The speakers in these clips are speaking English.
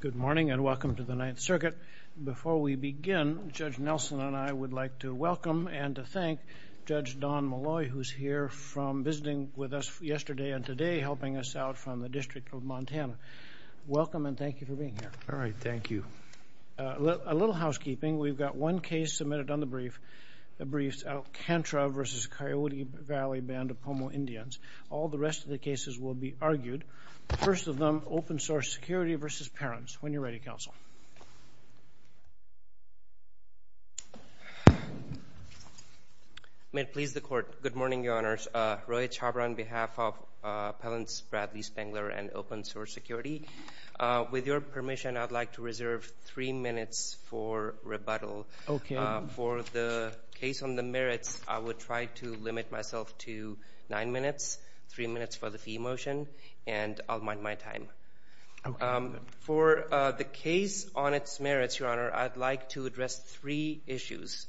Good morning and welcome to the Ninth Circuit. Before we begin, Judge Nelson and I would like to welcome and to thank Judge Don Malloy, who is here from visiting with us yesterday and today, helping us out from the District of Montana. Welcome and thank you for being here. All right, thank you. A little housekeeping. We've got one case submitted on the briefs, Alcantara v. Coyote Valley Band of Pomo Indians. All the rest of the cases will be argued. First of them, Open Source Security v. Perens. When you're ready, Counsel. May it please the Court. Good morning, Your Honors. Roy Chhabra on behalf of Appellants Bradley Spengler and Open Source Security. With your permission, I'd like to reserve three minutes for rebuttal. For the case on the merits, I would try to limit myself to nine minutes, three minutes for the fee motion, and I'll mind my time. For the case on its merits, Your Honor, I'd like to address three issues.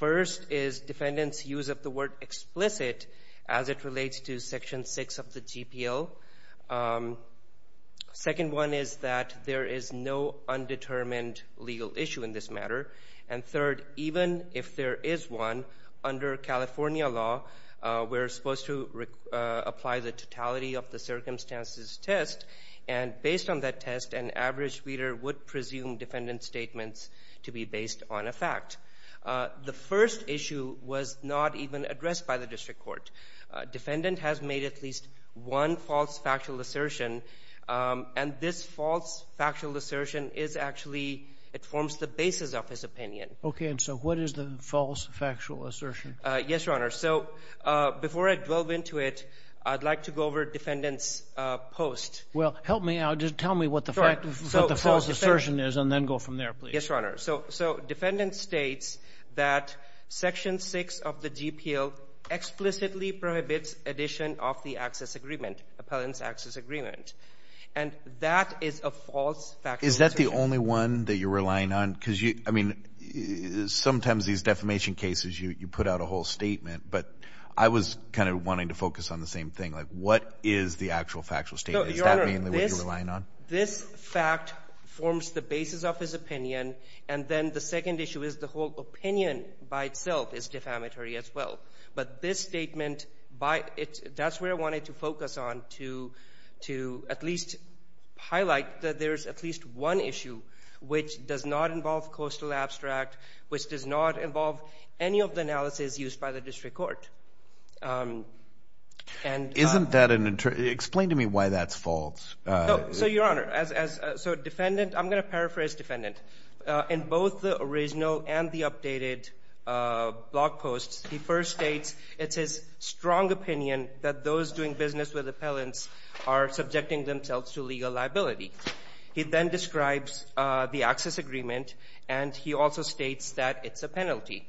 First is defendants' use of the word explicit as it relates to Section 6 of the GPL. Second one is that there is no undetermined legal issue in this matter. And third, even if there is one, under California law, we're supposed to apply the totality of the circumstances test, and based on that test, an average reader would presume defendant's statements to be based on a fact. The first issue was not even addressed by the District Court. Defendant has made at least one factual assertion, and this false factual assertion is actually, it forms the basis of his opinion. Okay, and so what is the false factual assertion? Yes, Your Honor. So before I delve into it, I'd like to go over defendant's post. Well, help me out. Just tell me what the false assertion is and then go from there, please. Yes, Your Honor. So defendant states that Section 6 of the GPL explicitly prohibits addition of the access agreement. And that is a false factual assertion. Is that the only one that you're relying on? Because you, I mean, sometimes these defamation cases, you put out a whole statement, but I was kind of wanting to focus on the same thing. Like, what is the actual factual statement? Is that mainly what you're relying on? No, Your Honor. This fact forms the basis of his opinion, and then the second issue is the whole opinion by itself is defamatory as well. But this statement, that's where I wanted to focus on to at least highlight that there's at least one issue which does not involve coastal abstract, which does not involve any of the analysis used by the district court. And... Isn't that an inter... Explain to me why that's false. So, Your Honor, as a defendant, I'm going to paraphrase defendant. In both the original and the updated blog posts, he first states it's his strong opinion that those doing business with appellants are subjecting themselves to legal liability. He then describes the access agreement, and he also states that it's a penalty.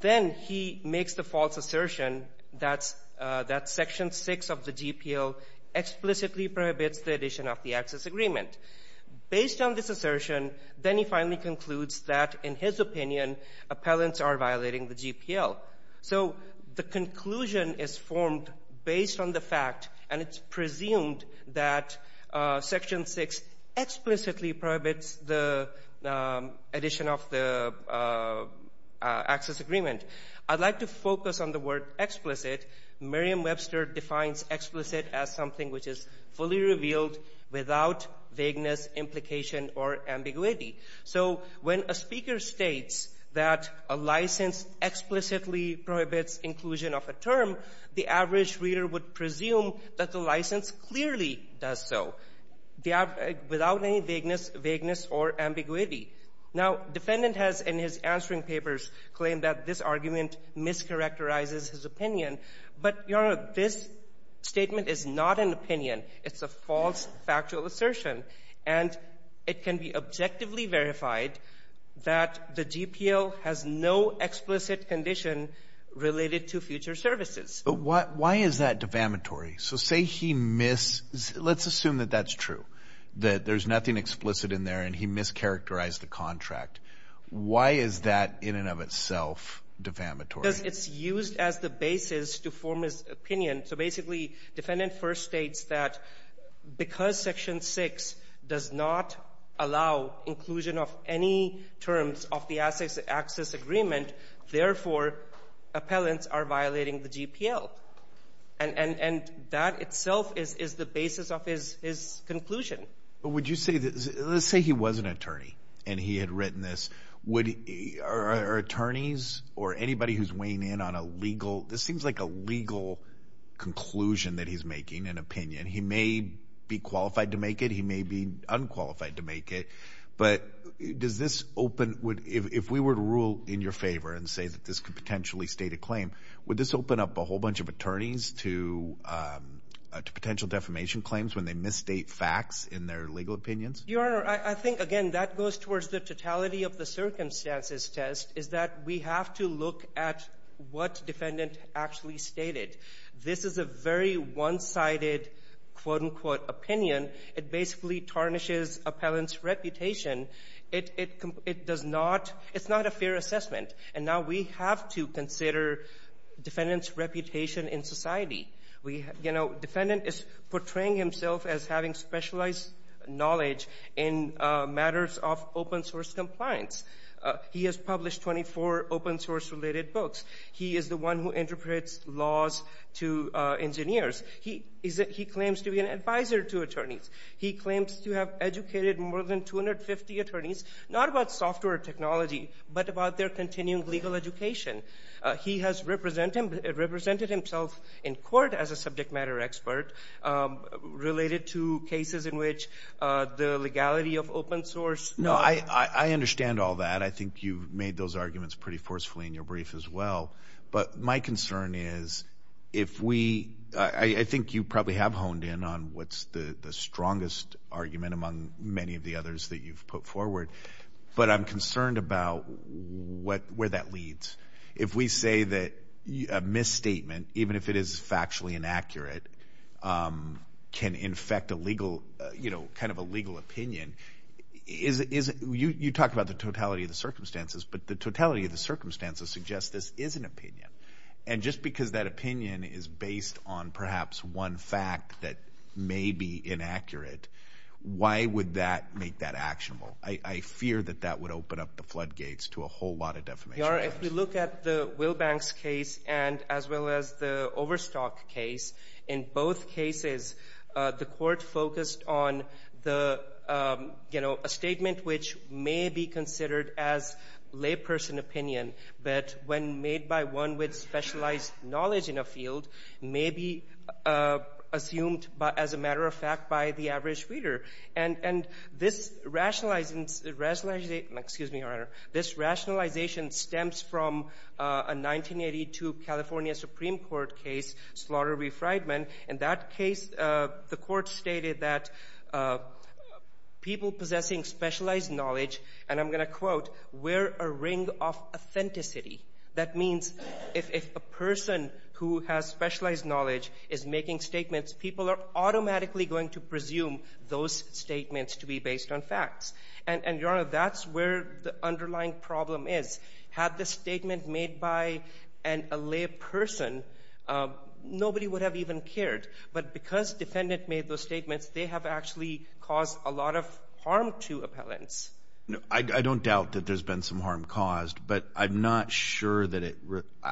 Then he makes the false assertion that's, that Section 6 of the GPL explicitly prohibits the addition of the access agreement. Based on this assertion, then he finally concludes that, in his opinion, appellants are violating the GPL. So the conclusion is formed based on the fact, and it's presumed that Section 6 explicitly prohibits the addition of the access agreement. I'd like to focus on the word explicit. Merriam-Webster defines explicit as something which is fully revealed without vagueness, implication, or ambiguity. So when a speaker states that a license explicitly prohibits inclusion of a term, the average reader would presume that the license clearly does so, without any vagueness or ambiguity. Now, defendant has, in his answering papers, claimed that this argument mischaracterizes his opinion. But, Your Honor, this statement is not an opinion. It's a false factual assertion, and it can be objectively verified that the GPL has no explicit condition related to future services. But why is that defamatory? So say he miss — let's assume that that's true, that there's nothing explicit in there, and he mischaracterized the contract. Why is that, in and of itself, defamatory? Because it's used as the basis to form his opinion. So basically, defendant first states that because Section 6 does not allow inclusion of any terms of the access agreement, therefore, appellants are violating the GPL. And that itself is the basis of his conclusion. But would you say that — let's say he was an attorney, and he had written this. Would — are attorneys or anybody who's weighing in on a legal — this seems like a legal conclusion that he's making, an opinion. He may be qualified to make it. He may be unqualified to make it. But does this open — if we were to rule in your favor and say that this could potentially state a claim, would this open up a whole bunch of attorneys to potential defamation claims when they misstate facts in their legal opinions? Your Honor, I think, again, that goes towards the totality of the circumstances test, is that we have to look at what defendant actually stated. This is a very one-sided, quote, unquote, opinion. It basically tarnishes appellant's reputation. It does not — it's not a fair assessment. And now we have to consider defendant's reputation in society. We — you know, defendant is portraying himself as having specialized knowledge in matters of open source compliance. He has published 24 open source-related books. He is the one who interprets laws to engineers. He claims to be an advisor to attorneys. He claims to have educated more than 250 attorneys, not about software technology, but about their continuing legal education. He has represented himself in court as a subject matter expert related to cases in which the legality of open source — No, I understand all that. I think you've made those arguments pretty forcefully in your brief as well. But my concern is, if we — I think you probably have honed in on what's the strongest argument among many of the others that you've put forward. But I'm concerned about what — where that leads. If we say that a misstatement, even if it is factually inaccurate, can infect a legal — you know, kind of a legal opinion, is it — you talk about the totality of the circumstances, but the totality of the circumstances suggest this is an opinion. And just because that opinion is based on perhaps one fact that may be inaccurate, why would that make that actionable? I fear that that would open up the floodgates to a whole lot of defamation. Your Honor, if we look at the Wilbanks case and — as well as the Overstock case, in both cases, the Court focused on the — you know, a statement which may be considered as layperson opinion, but when made by one with specialized knowledge in a field, may be assumed as a matter of fact by the average reader. And this rationalizing — excuse me, Your Honor. This rationalization stems from a 1982 California Supreme Court case, Slaughter v. Frydman. In that case, the Court stated that people possessing specialized knowledge — and I'm going to quote — wear a ring of authenticity. That means if a person who has specialized knowledge is making statements, people are automatically going to presume those statements to be based on facts. And, Your Honor, that's where the underlying problem is. Had the statement made by a layperson, nobody would have even cared. But because defendant made those statements, they have actually caused a lot of harm to appellants. I don't doubt that there's been some harm caused, but I'm not sure that it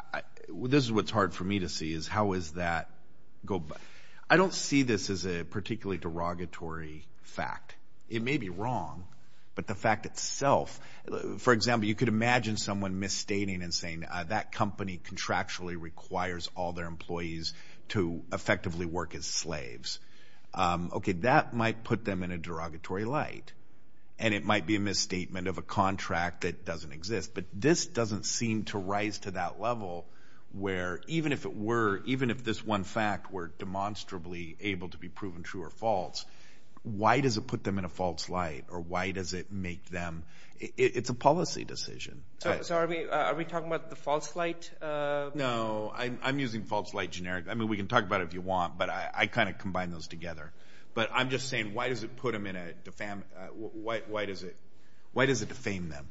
— this is what's hard for me to see, is how is that — I don't see this as a particularly derogatory fact. It may be wrong, but the fact itself — for example, you could imagine someone misstating and saying, that company contractually requires all their employees to effectively work as slaves. Okay, that might put them in a derogatory light, and it might be a misstatement of a contract that doesn't exist. But this doesn't seem to rise to that level where, even if it were — even if this one fact were demonstrably able to be proven true or false, why does it put them in a false light, or why does it make them — it's a policy decision. So are we talking about the false light? No, I'm using false light generic. I mean, we can talk about it if you want, but I kind of combine those together. But I'm just saying, why does it put them in a — why does it defame them?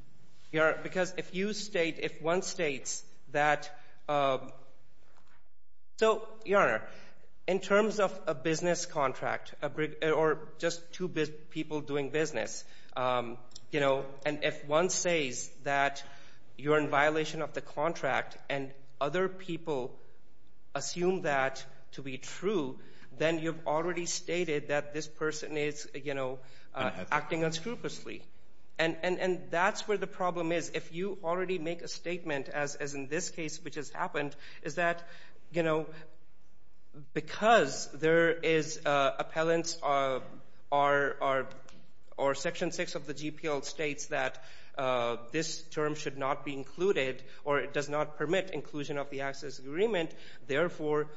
Your Honor, because if you state — if one states that — so, Your Honor, in terms of a business contract, or just two people doing business, you know, and if one says that you're in violation of the contract and other people assume that to be true, then you've already stated that this person is, you know, acting unscrupulously. And that's where the problem is. If you already make a statement, as in this case which has happened, is that, you know, because there is appellants or Section 6 of the GPL states that this term should not be included, or it does not permit inclusion of the access agreement, therefore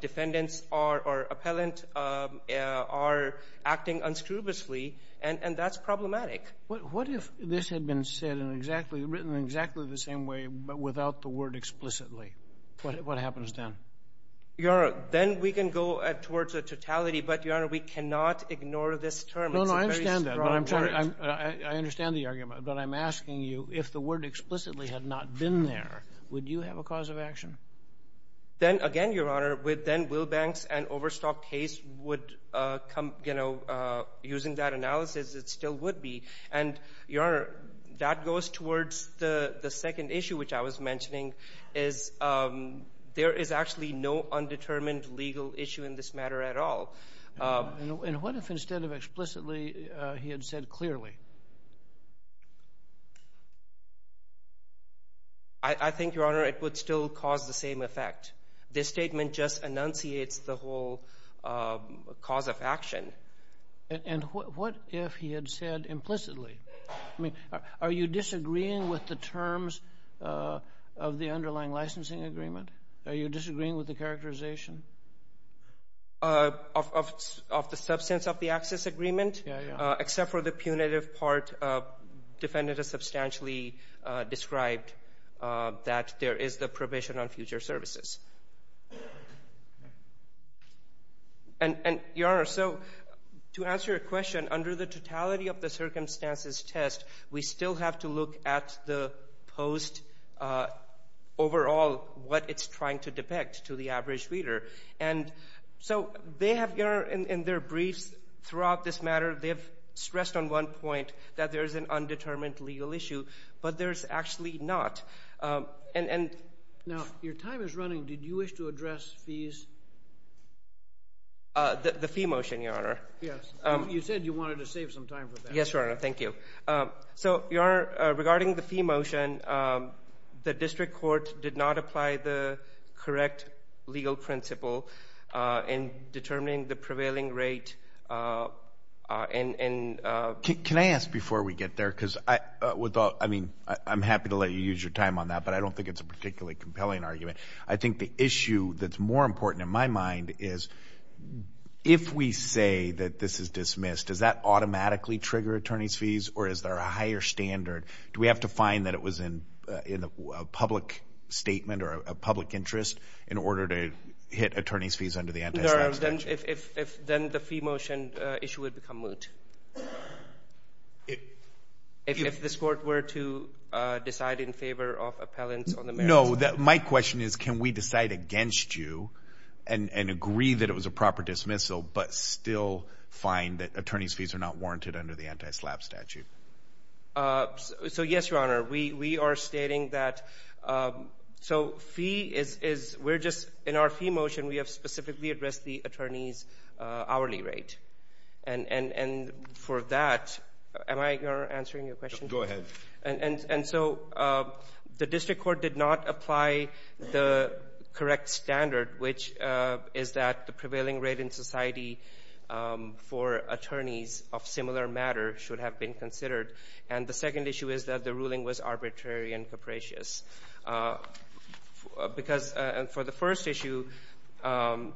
defendants are — or appellant are acting unscrupulously, and that's problematic. What if this had been said in exactly — written in exactly the same way, but without the word explicitly? What happens then? Your Honor, then we can go towards a totality, but, Your Honor, we cannot ignore this term. It's a very strong word. No, no, I understand that, but I'm trying — I understand the argument, but I'm asking you if the word explicitly had not been there, would you have a cause of action? Then, again, Your Honor, with then Wilbanks and Overstock case would come, you know, using that analysis, it still would be. And, Your Honor, that goes towards the second issue which I was mentioning, is there is actually no undetermined legal issue in this matter at all. And what if instead of explicitly, he had said clearly? I think, Your Honor, it would still cause the same effect. This statement just enunciates the whole cause of action. And what if he had said implicitly? I mean, are you disagreeing with the terms of the underlying licensing agreement? Are you disagreeing with the characterization? Of the substance of the access agreement? Yeah, yeah. Except for the punitive part, defendant has substantially described that there is the provision on future services. And Your Honor, so to answer your question, under the totality of the circumstances test, we still have to look at the post overall, what it's trying to depict to the average reader. And so they have, Your Honor, in their briefs throughout this matter, they have stressed on one point that there is an undetermined legal issue, but there's actually not. Now, your time is running. Did you wish to address fees? The fee motion, Your Honor. Yes. You said you wanted to save some time for that. Yes, Your Honor. Thank you. So, Your Honor, regarding the fee motion, the district court did not apply the correct legal principle in determining the prevailing rate. Can I ask before we get there, because I'm happy to let you use your time on that, but I don't think it's a particularly compelling argument. I think the issue that's more important in my mind is, if we say that this is dismissed, does that automatically trigger attorney's fees, or is there a higher standard? Do we have to find that it was in a public statement or a public interest in order to hit attorney's fees under the anti-slavery statute? If then the fee motion issue would become moot. If this court were to decide in favor of appellants on the merits. No. My question is, can we decide against you and agree that it was a proper dismissal, but still find that attorney's fees are not warranted under the anti-SLAPP statute? So, yes, Your Honor. We are stating that. So, fee is, we're just, in our fee motion, we have specifically addressed the attorney's hourly rate. And for that, am I answering your question? Go ahead. And so the district court did not apply the correct standard, which is that the prevailing rate in society for attorneys of similar matter should have been considered. And the second issue is that the ruling was arbitrary and capricious. Because for the first issue, the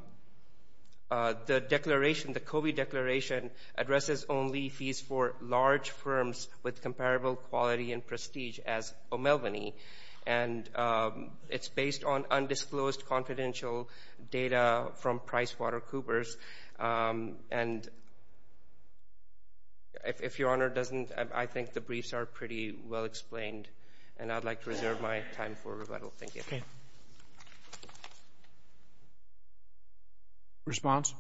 declaration, the Covey Declaration, addresses only fees for large firms with comparable quality and prestige as O'Melveny. And it's based on undisclosed confidential data from PricewaterCoopers. And if Your Honor doesn't, I think the briefs are pretty well explained. And I'd like to reserve my time for rebuttal. Thank you. Okay. Response?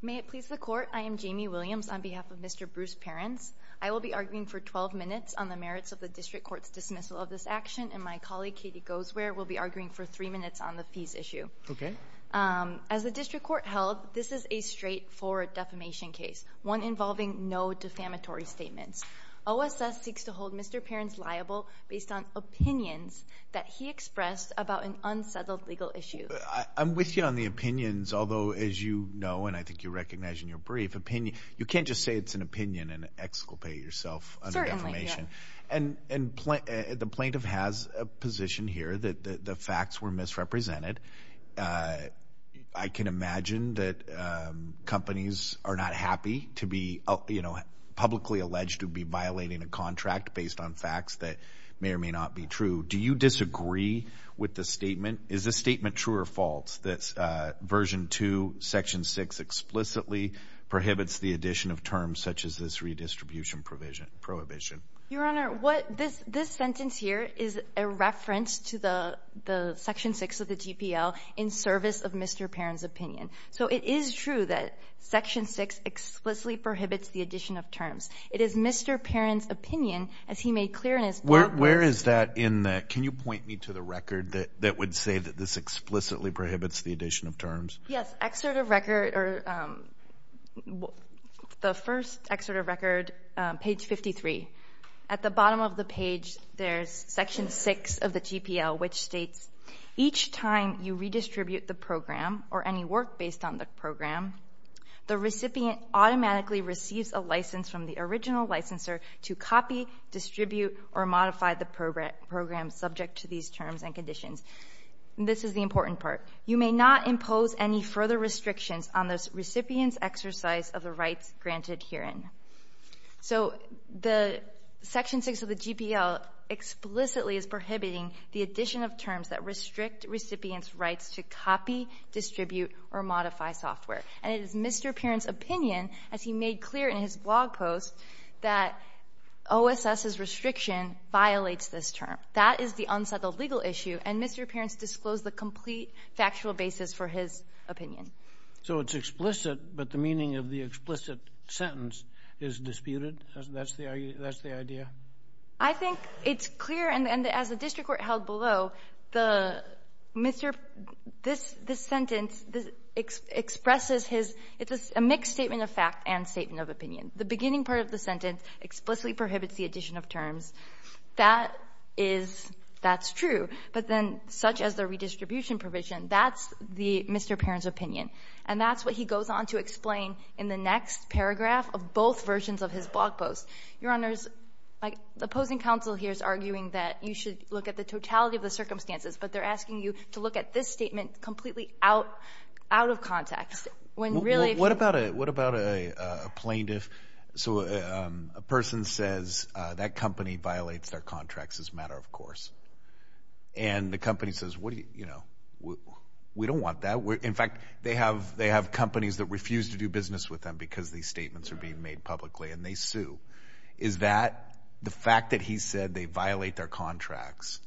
May it please the Court, I am Jamie Williams on behalf of Mr. Bruce Perrins. I will be arguing for 12 minutes on the merits of the district court's dismissal of this action, and my colleague, Katie Goesware, will be arguing for 3 minutes on the fees issue. Okay. As the district court held, this is a straightforward defamation case, one involving no defamatory statements. OSS seeks to hold Mr. Perrins liable based on opinions that he expressed about an unsettled legal issue. I'm with you on the opinions, although as you know, and I think you recognize in your brief, you can't just say it's an opinion and exculpate yourself under defamation. And the plaintiff has a position here that the facts were misrepresented. I can imagine that companies are not happy to be publicly alleged to be violating a contract based on facts that may or may not be true. Do you disagree with the statement? Is the statement true or false that Version 2, Section 6 explicitly prohibits the addition of terms such as this redistribution prohibition? Your Honor, what this sentence here is a reference to the Section 6 of the GPL in service of Mr. Perrins' opinion. So it is true that Section 6 explicitly prohibits the addition of terms. It is Mr. Perrins' opinion, as he made clear in his brief. Where is that in that? Can you point me to the record that would say that this explicitly prohibits the addition of terms? Yes, excerpt of record or the first excerpt of record, page 53. At the bottom of the page, there's Section 6 of the GPL, which states, each time you redistribute the program or any work based on the program, the recipient automatically receives a license from the original licensor to copy, distribute, or modify the program subject to these terms and conditions. This is the important part. You may not impose any further restrictions on the recipient's exercise of the rights granted herein. So the Section 6 of the GPL explicitly is prohibiting the addition of terms that restrict recipient's rights to copy, distribute, or modify software. And it is Mr. Perrins' opinion, as he made clear in his blog post, that OSS's restriction violates this term. That is the legal issue. And Mr. Perrins disclosed the complete factual basis for his opinion. So it's explicit, but the meaning of the explicit sentence is disputed? That's the idea? I think it's clear, and as the district court held below, this sentence expresses his — it's a mixed statement of fact and statement of opinion. The beginning part of the sentence explicitly prohibits the addition of terms. That is — that's true. But then, such as the redistribution provision, that's the — Mr. Perrins' opinion. And that's what he goes on to explain in the next paragraph of both versions of his blog post. Your Honors, like, the opposing counsel here is arguing that you should look at the totality of the circumstances, but they're asking you to look at this statement completely out — out of context, when really — So a person says, that company violates their contracts as a matter of course. And the company says, what do you — you know, we don't want that. In fact, they have — they have companies that refuse to do business with them because these statements are being made publicly, and they sue. Is that — the fact that he said they violate their contracts,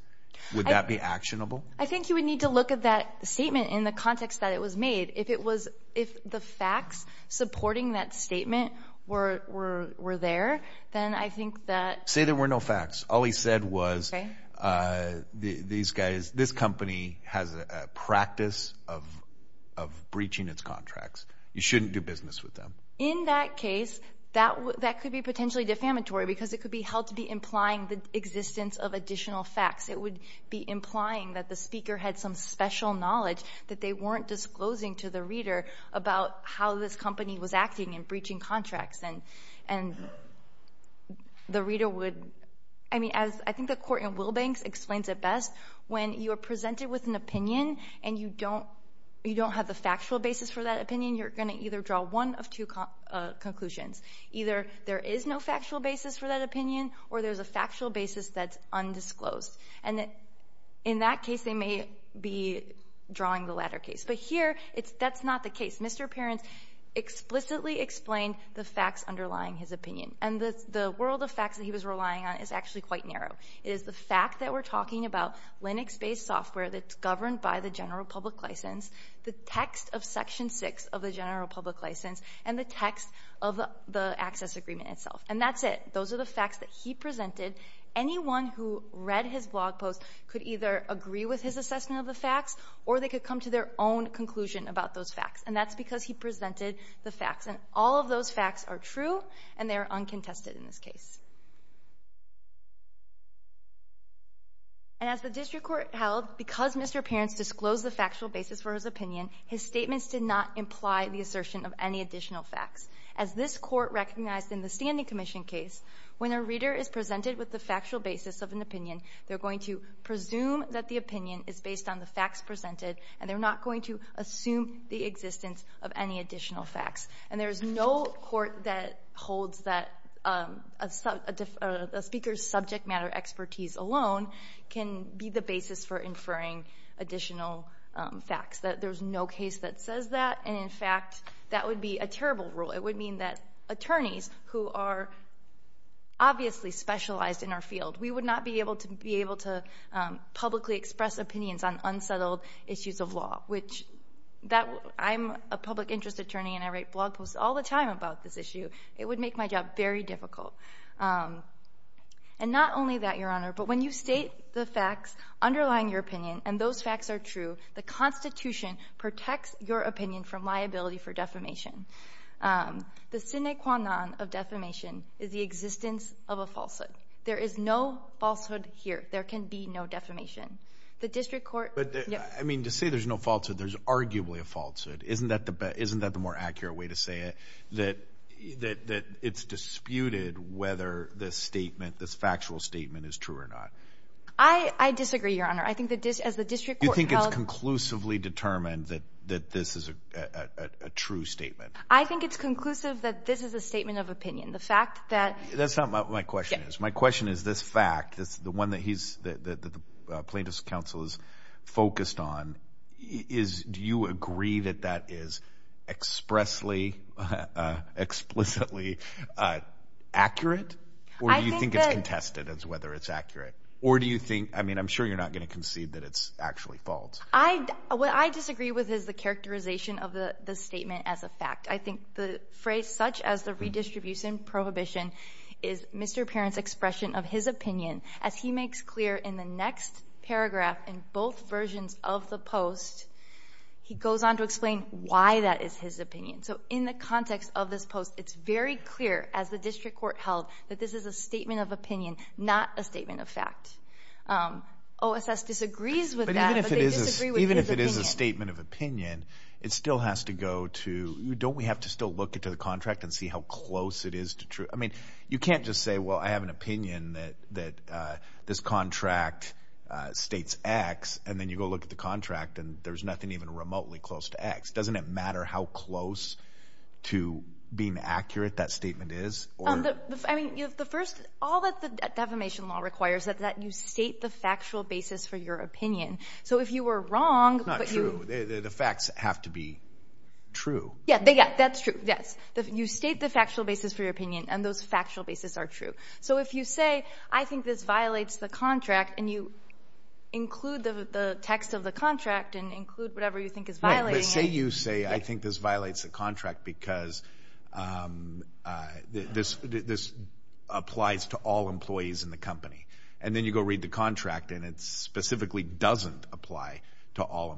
would that be actionable? I think you would need to look at that statement in the context that it was made. If it was — if the facts supporting that statement were — were there, then I think that — Say there were no facts. All he said was, these guys — this company has a practice of — of breaching its contracts. You shouldn't do business with them. In that case, that could be potentially defamatory because it could be held to be implying the existence of additional facts. It would be implying that the speaker had some special knowledge that they weren't disclosing to the reader about how this company was acting and breaching contracts. And — and the reader would — I mean, as I think the court in Wilbanks explains it best, when you are presented with an opinion and you don't — you don't have the factual basis for that opinion, you're going to either draw one of two conclusions. Either there is no factual basis for that opinion, or there's a factual basis that's drawing the latter case. But here, it's — that's not the case. Mr. Perrins explicitly explained the facts underlying his opinion. And the — the world of facts that he was relying on is actually quite narrow. It is the fact that we're talking about Linux-based software that's governed by the general public license, the text of Section 6 of the general public license, and the text of the — the access agreement itself. And that's it. Those are the facts that he presented. Anyone who read his blog post could either agree with his assessment of the facts, or they could come to their own conclusion about those facts. And that's because he presented the facts. And all of those facts are true, and they are uncontested in this case. And as the district court held, because Mr. Perrins disclosed the factual basis for his opinion, his statements did not imply the assertion of any additional facts. As this court recognized in the Standing Commission case, when a reader is presented with the opinion is based on the facts presented, and they're not going to assume the existence of any additional facts. And there's no court that holds that a speaker's subject matter expertise alone can be the basis for inferring additional facts. There's no case that says that. And, in fact, that would be a terrible rule. It would mean that attorneys who are obviously specialized in our field — we would not be able to be able to publicly express opinions on unsettled issues of law. I'm a public interest attorney, and I write blog posts all the time about this issue. It would make my job very difficult. And not only that, Your Honor, but when you state the facts underlying your opinion, and those facts are true, the Constitution protects your opinion from liability for defamation. The sine qua non of defamation is the existence of a falsehood. There is no falsehood here. There can be no defamation. The district court — But, I mean, to say there's no falsehood, there's arguably a falsehood. Isn't that the more accurate way to say it, that it's disputed whether this statement, this factual statement is true or not? I disagree, Your Honor. I think that, as the district court held — You think it's conclusively determined that this is a true statement? I think it's conclusive that this is a statement of opinion. The fact that — That's not what my question is. My question is, this fact, the one that the plaintiff's counsel is focused on, do you agree that that is expressly, explicitly accurate? Or do you think it's contested as whether it's accurate? Or do you think — I mean, I'm sure you're not going to concede that it's actually false. What I disagree with is the characterization of the statement as a fact. I think the phrase as the redistribution prohibition is Mr. Parent's expression of his opinion. As he makes clear in the next paragraph in both versions of the post, he goes on to explain why that is his opinion. So in the context of this post, it's very clear, as the district court held, that this is a statement of opinion, not a statement of fact. OSS disagrees with that, but they disagree with his opinion. Even if it is a statement of opinion, it still has to go to — don't we have to still look to the contract and see how close it is to true — I mean, you can't just say, well, I have an opinion that this contract states X, and then you go look at the contract and there's nothing even remotely close to X. Doesn't it matter how close to being accurate that statement is? I mean, the first — all that the defamation law requires is that you state the factual basis for your opinion. So if you were wrong — Not true. The facts have to be true. Yeah, that's true, yes. You state the factual basis for your opinion, and those factual basis are true. So if you say, I think this violates the contract, and you include the text of the contract and include whatever you think is violating — But say you say, I think this violates the contract because this applies to all employees in the company. And then you go read the contract, and it specifically doesn't apply to all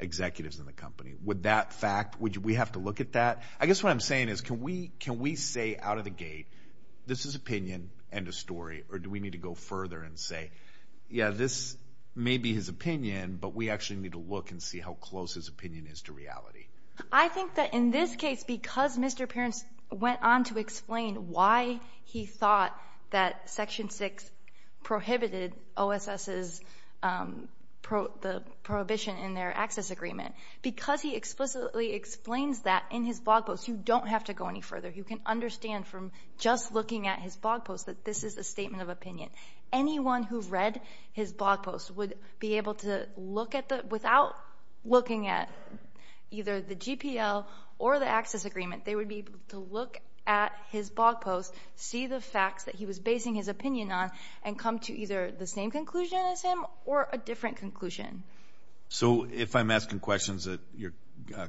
executives in the company. Would that fact — would we have to look at that? I guess what I'm saying is, can we say out of the gate, this is opinion, end of story, or do we need to go further and say, yeah, this may be his opinion, but we actually need to look and see how close his opinion is to reality? I think that in this case, because Mr. Perrins went on to explain why he thought that Section 6 prohibited OSS's — the prohibition in their access agreement, because he explicitly explains that in his blog post, you don't have to go any further. You can understand from just looking at his blog post that this is a statement of opinion. Anyone who read his blog post would be able to look at the — without looking at either the GPL or the access agreement, they would be able to look at his blog post, see the facts that he was basing his opinion on, and come to either the same conclusion as him or a different conclusion. So if I'm asking questions that your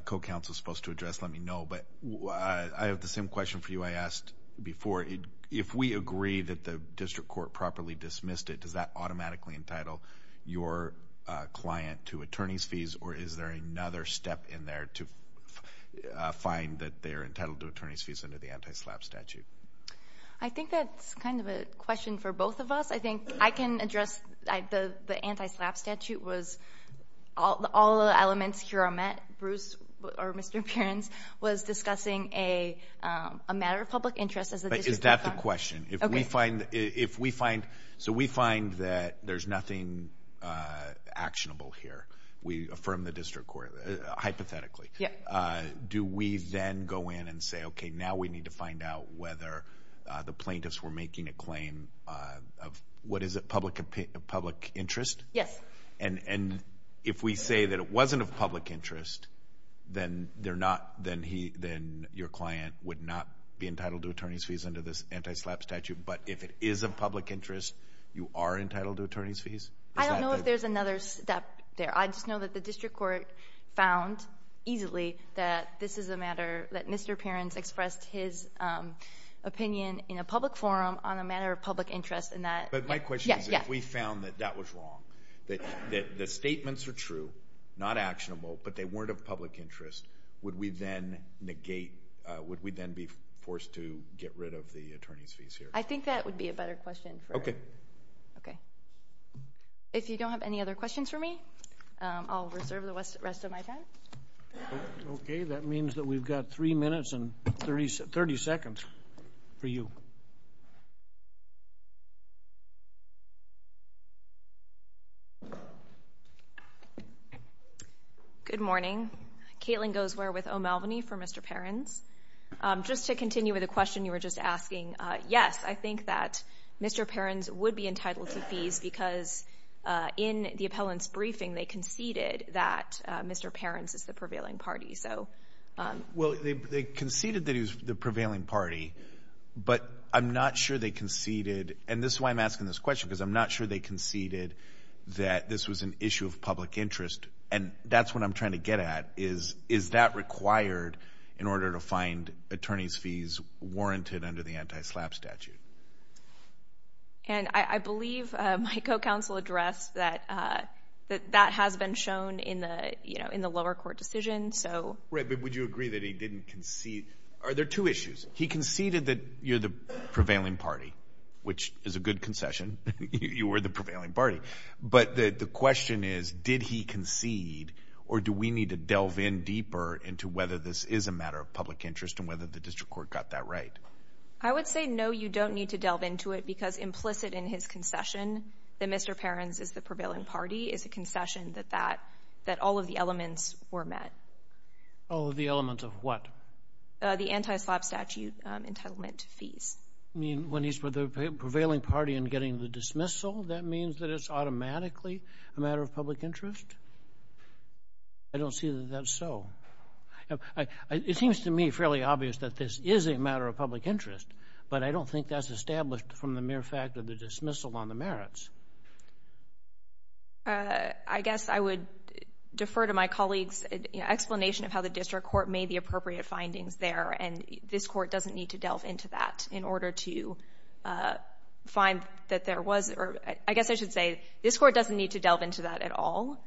co-counsel is supposed to address, let me know. But I have the same question for you I asked before. If we agree that the district court properly dismissed it, does that automatically entitle your client to attorney's fees, or is there another step in there to find that they're entitled to attorney's fees under the anti-SLAPP statute? I think that's kind of a question for both of us. I think I can address — the anti-SLAPP statute was — all the elements here are met. Bruce, or Mr. Appearance, was discussing a matter of public interest as the district court — But is that the question? If we find — so we find that there's nothing actionable here, we affirm the district court, hypothetically. Do we then go in and say, okay, now we need to find out whether the plaintiffs were making a claim of — what is it, public interest? Yes. And if we say that it wasn't of public interest, then they're not — then your client would not be entitled to attorney's fees under this anti-SLAPP statute. But if it is of public interest, you are entitled to attorney's fees? I don't know if there's another step there. I just know that the district court found easily that this is a matter — that Mr. Appearance expressed his opinion in a public forum on a matter of public interest, and that — But my question is, if we found that that was wrong, that the statements are true, not actionable, but they weren't of public interest, would we then negate — would we then be forced to get rid of the attorney's fees here? I think that would be a better question for — Okay. Okay. If you don't have any other questions for me, I'll reserve the rest of my time. Okay. That means that we've got three minutes and 30 seconds for you. Good morning. Caitlin Goesware with O'Malveny for Mr. Appearance. Just to continue with the question you were just asking, yes, I think that Mr. Appearance would be entitled to fees because in the appellant's briefing, they conceded that Mr. Appearance is the prevailing party, so — Well, they conceded that he was the prevailing party, but I'm not sure they conceded — and this is why I'm asking this question, because I'm not sure they conceded that this was an issue of public interest, and that's what I'm trying to get at is, is that required in order to find attorney's fees warranted under the anti-SLAPP statute? And I believe my co-counsel addressed that that has been shown in the lower court decision, so — Right, but would you agree that he didn't concede — are there two issues? He conceded that you're the prevailing party, which is a good concession. You were the prevailing party. But the question is, did he concede, or do we need to delve in deeper into whether this is a matter of public interest and whether the district court got that right? I would say, no, you don't need to delve into it, because implicit in his concession that Mr. Appearance is the prevailing party is a concession that that — that all of the elements were met. All of the elements of what? The anti-SLAPP statute entitlement to fees. You mean, when he's the prevailing party in getting the dismissal, that means that it's automatically a matter of public interest? I don't see that that's so. You know, it seems to me fairly obvious that this is a matter of public interest, but I don't think that's established from the mere fact of the dismissal on the merits. I guess I would defer to my colleague's explanation of how the district court made the appropriate findings there, and this court doesn't need to delve into that in order to find that there was — or I guess I should say, this court doesn't need to delve into that at all,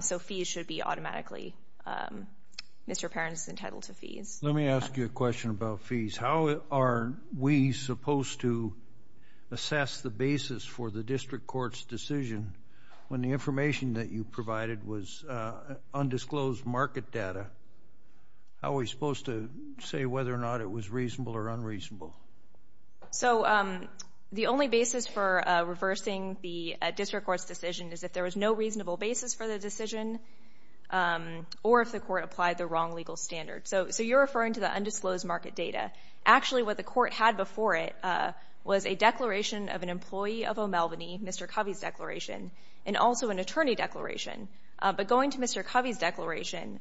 so fees should be automatically — Mr. Appearance is entitled to fees. Let me ask you a question about fees. How are we supposed to assess the basis for the district court's decision when the information that you provided was undisclosed market data? How are we supposed to say whether or not it was reasonable or unreasonable? So the only basis for reversing the district court's decision is if there was no reasonable basis for the decision or if the court applied the wrong legal standard. So you're referring to the undisclosed market data. Actually, what the court had before it was a declaration of an employee of O'Malvany, Mr. Covey's declaration, and also an attorney declaration. But going to Mr. Covey's declaration,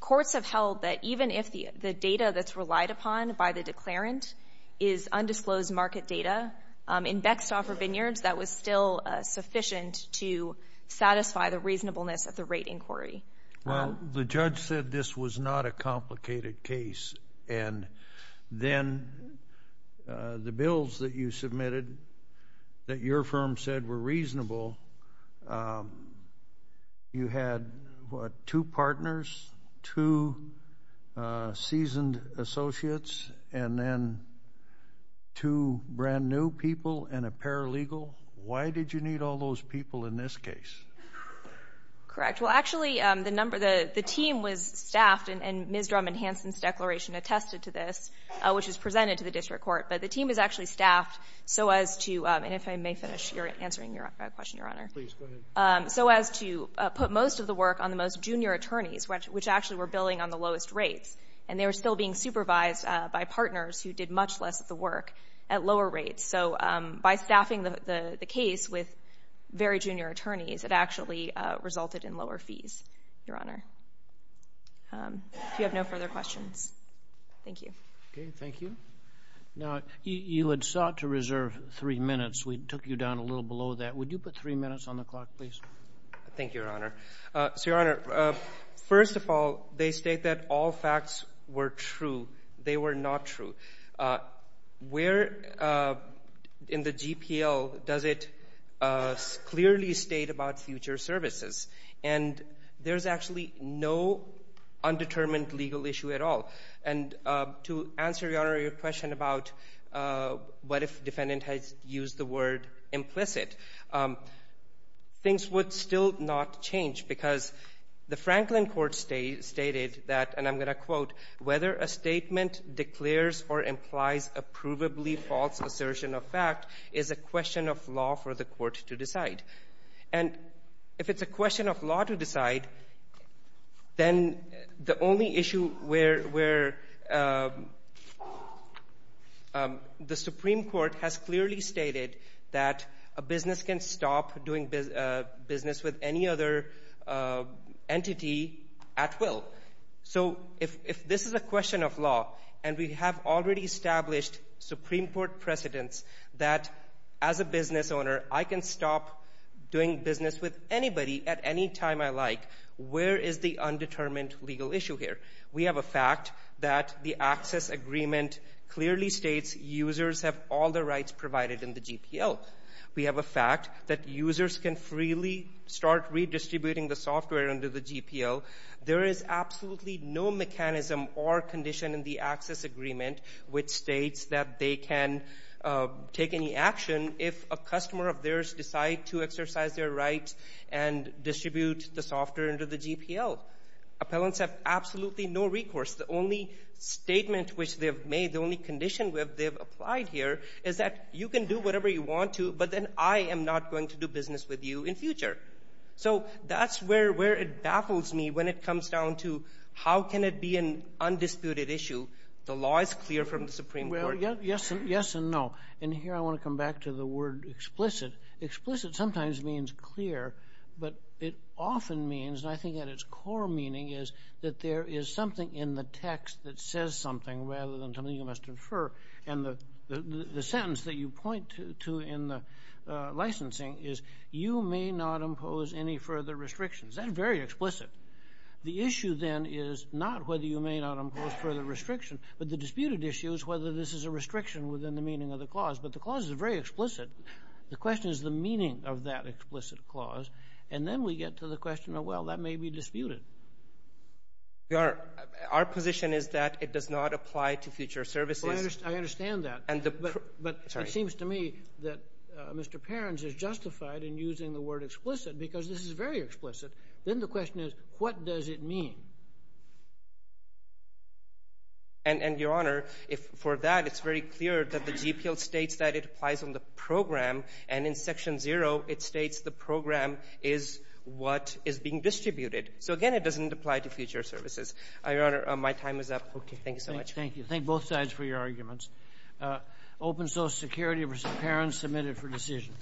courts have held that even if the data that's is undisclosed market data, in Bextoffer Vineyards, that was still sufficient to satisfy the reasonableness of the rate inquiry. Well, the judge said this was not a complicated case, and then the bills that you submitted that your firm said were reasonable, you had, what, two partners, two seasoned associates, and then two brand-new people and a paralegal? Why did you need all those people in this case? Correct. Well, actually, the team was staffed, and Ms. Drummond-Hanson's declaration attested to this, which was presented to the district court. But the team was actually staffed so as to, and if I may finish answering your question, Your Honor. Please, go ahead. So as to put most of the work on the most junior attorneys, which actually were billing on the lowest rates, and they were still being supervised by partners who did much less of the work at lower rates. So by staffing the case with very junior attorneys, it actually resulted in lower fees, Your Honor. If you have no further questions, thank you. Okay. Thank you. Now, you had sought to reserve three minutes. We took you down a little below that. Would you put three minutes on the clock, please? Thank you, Your Honor. So, Your Honor, first of all, they state that all facts were true. They were not true. Where in the GPL does it clearly state about future services? And there's actually no undetermined legal issue at all. And to answer, Your Honor, your question about what if defendant has used the word implicit, things would still not change because the Franklin Court stated that, and I'm going to quote, whether a statement declares or implies a provably false assertion of fact is a question of law for the court to decide. And if it's a question of law to decide, then the only issue where the Supreme Court has stated that a business can stop doing business with any other entity at will. So if this is a question of law, and we have already established Supreme Court precedents that as a business owner, I can stop doing business with anybody at any time I like, where is the undetermined legal issue here? We have a fact that the access agreement clearly states users have all the rights provided in the GPL. We have a fact that users can freely start redistributing the software under the GPL. There is absolutely no mechanism or condition in the access agreement which states that they can take any action if a customer of theirs decide to exercise their rights and distribute the software under the GPL. Appellants have absolutely no recourse. The only statement which they have made, the only condition they have applied here is that you can do whatever you want to, but then I am not going to do business with you in future. So that's where it baffles me when it comes down to how can it be an undisputed issue? The law is clear from the Supreme Court. Well, yes and no. And here I want to come back to the word explicit. Explicit sometimes means clear, but it often means, and I think that its core meaning is that there is something in the text that says something rather than something you must infer. And the sentence that you point to in the licensing is you may not impose any further restrictions. That's very explicit. The issue then is not whether you may not impose further restriction, but the disputed issue is whether this is a restriction within the meaning of the clause. But the clause is very explicit. The question is the meaning of that explicit clause. And then we get to the question of, well, that may be disputed. Our position is that it does not apply to future services. I understand that. But it seems to me that Mr. Perins is justified in using the word explicit because this is very explicit. Then the question is, what does it mean? And, Your Honor, for that, it's very clear that the GPL states that it applies on the program. And in Section 0, it states the program is what is being distributed. So again, it doesn't apply to future services. Your Honor, my time is up. Thank you so much. Thank you. Thank both sides for your arguments. Open Social Security v. Perins, submitted for decision.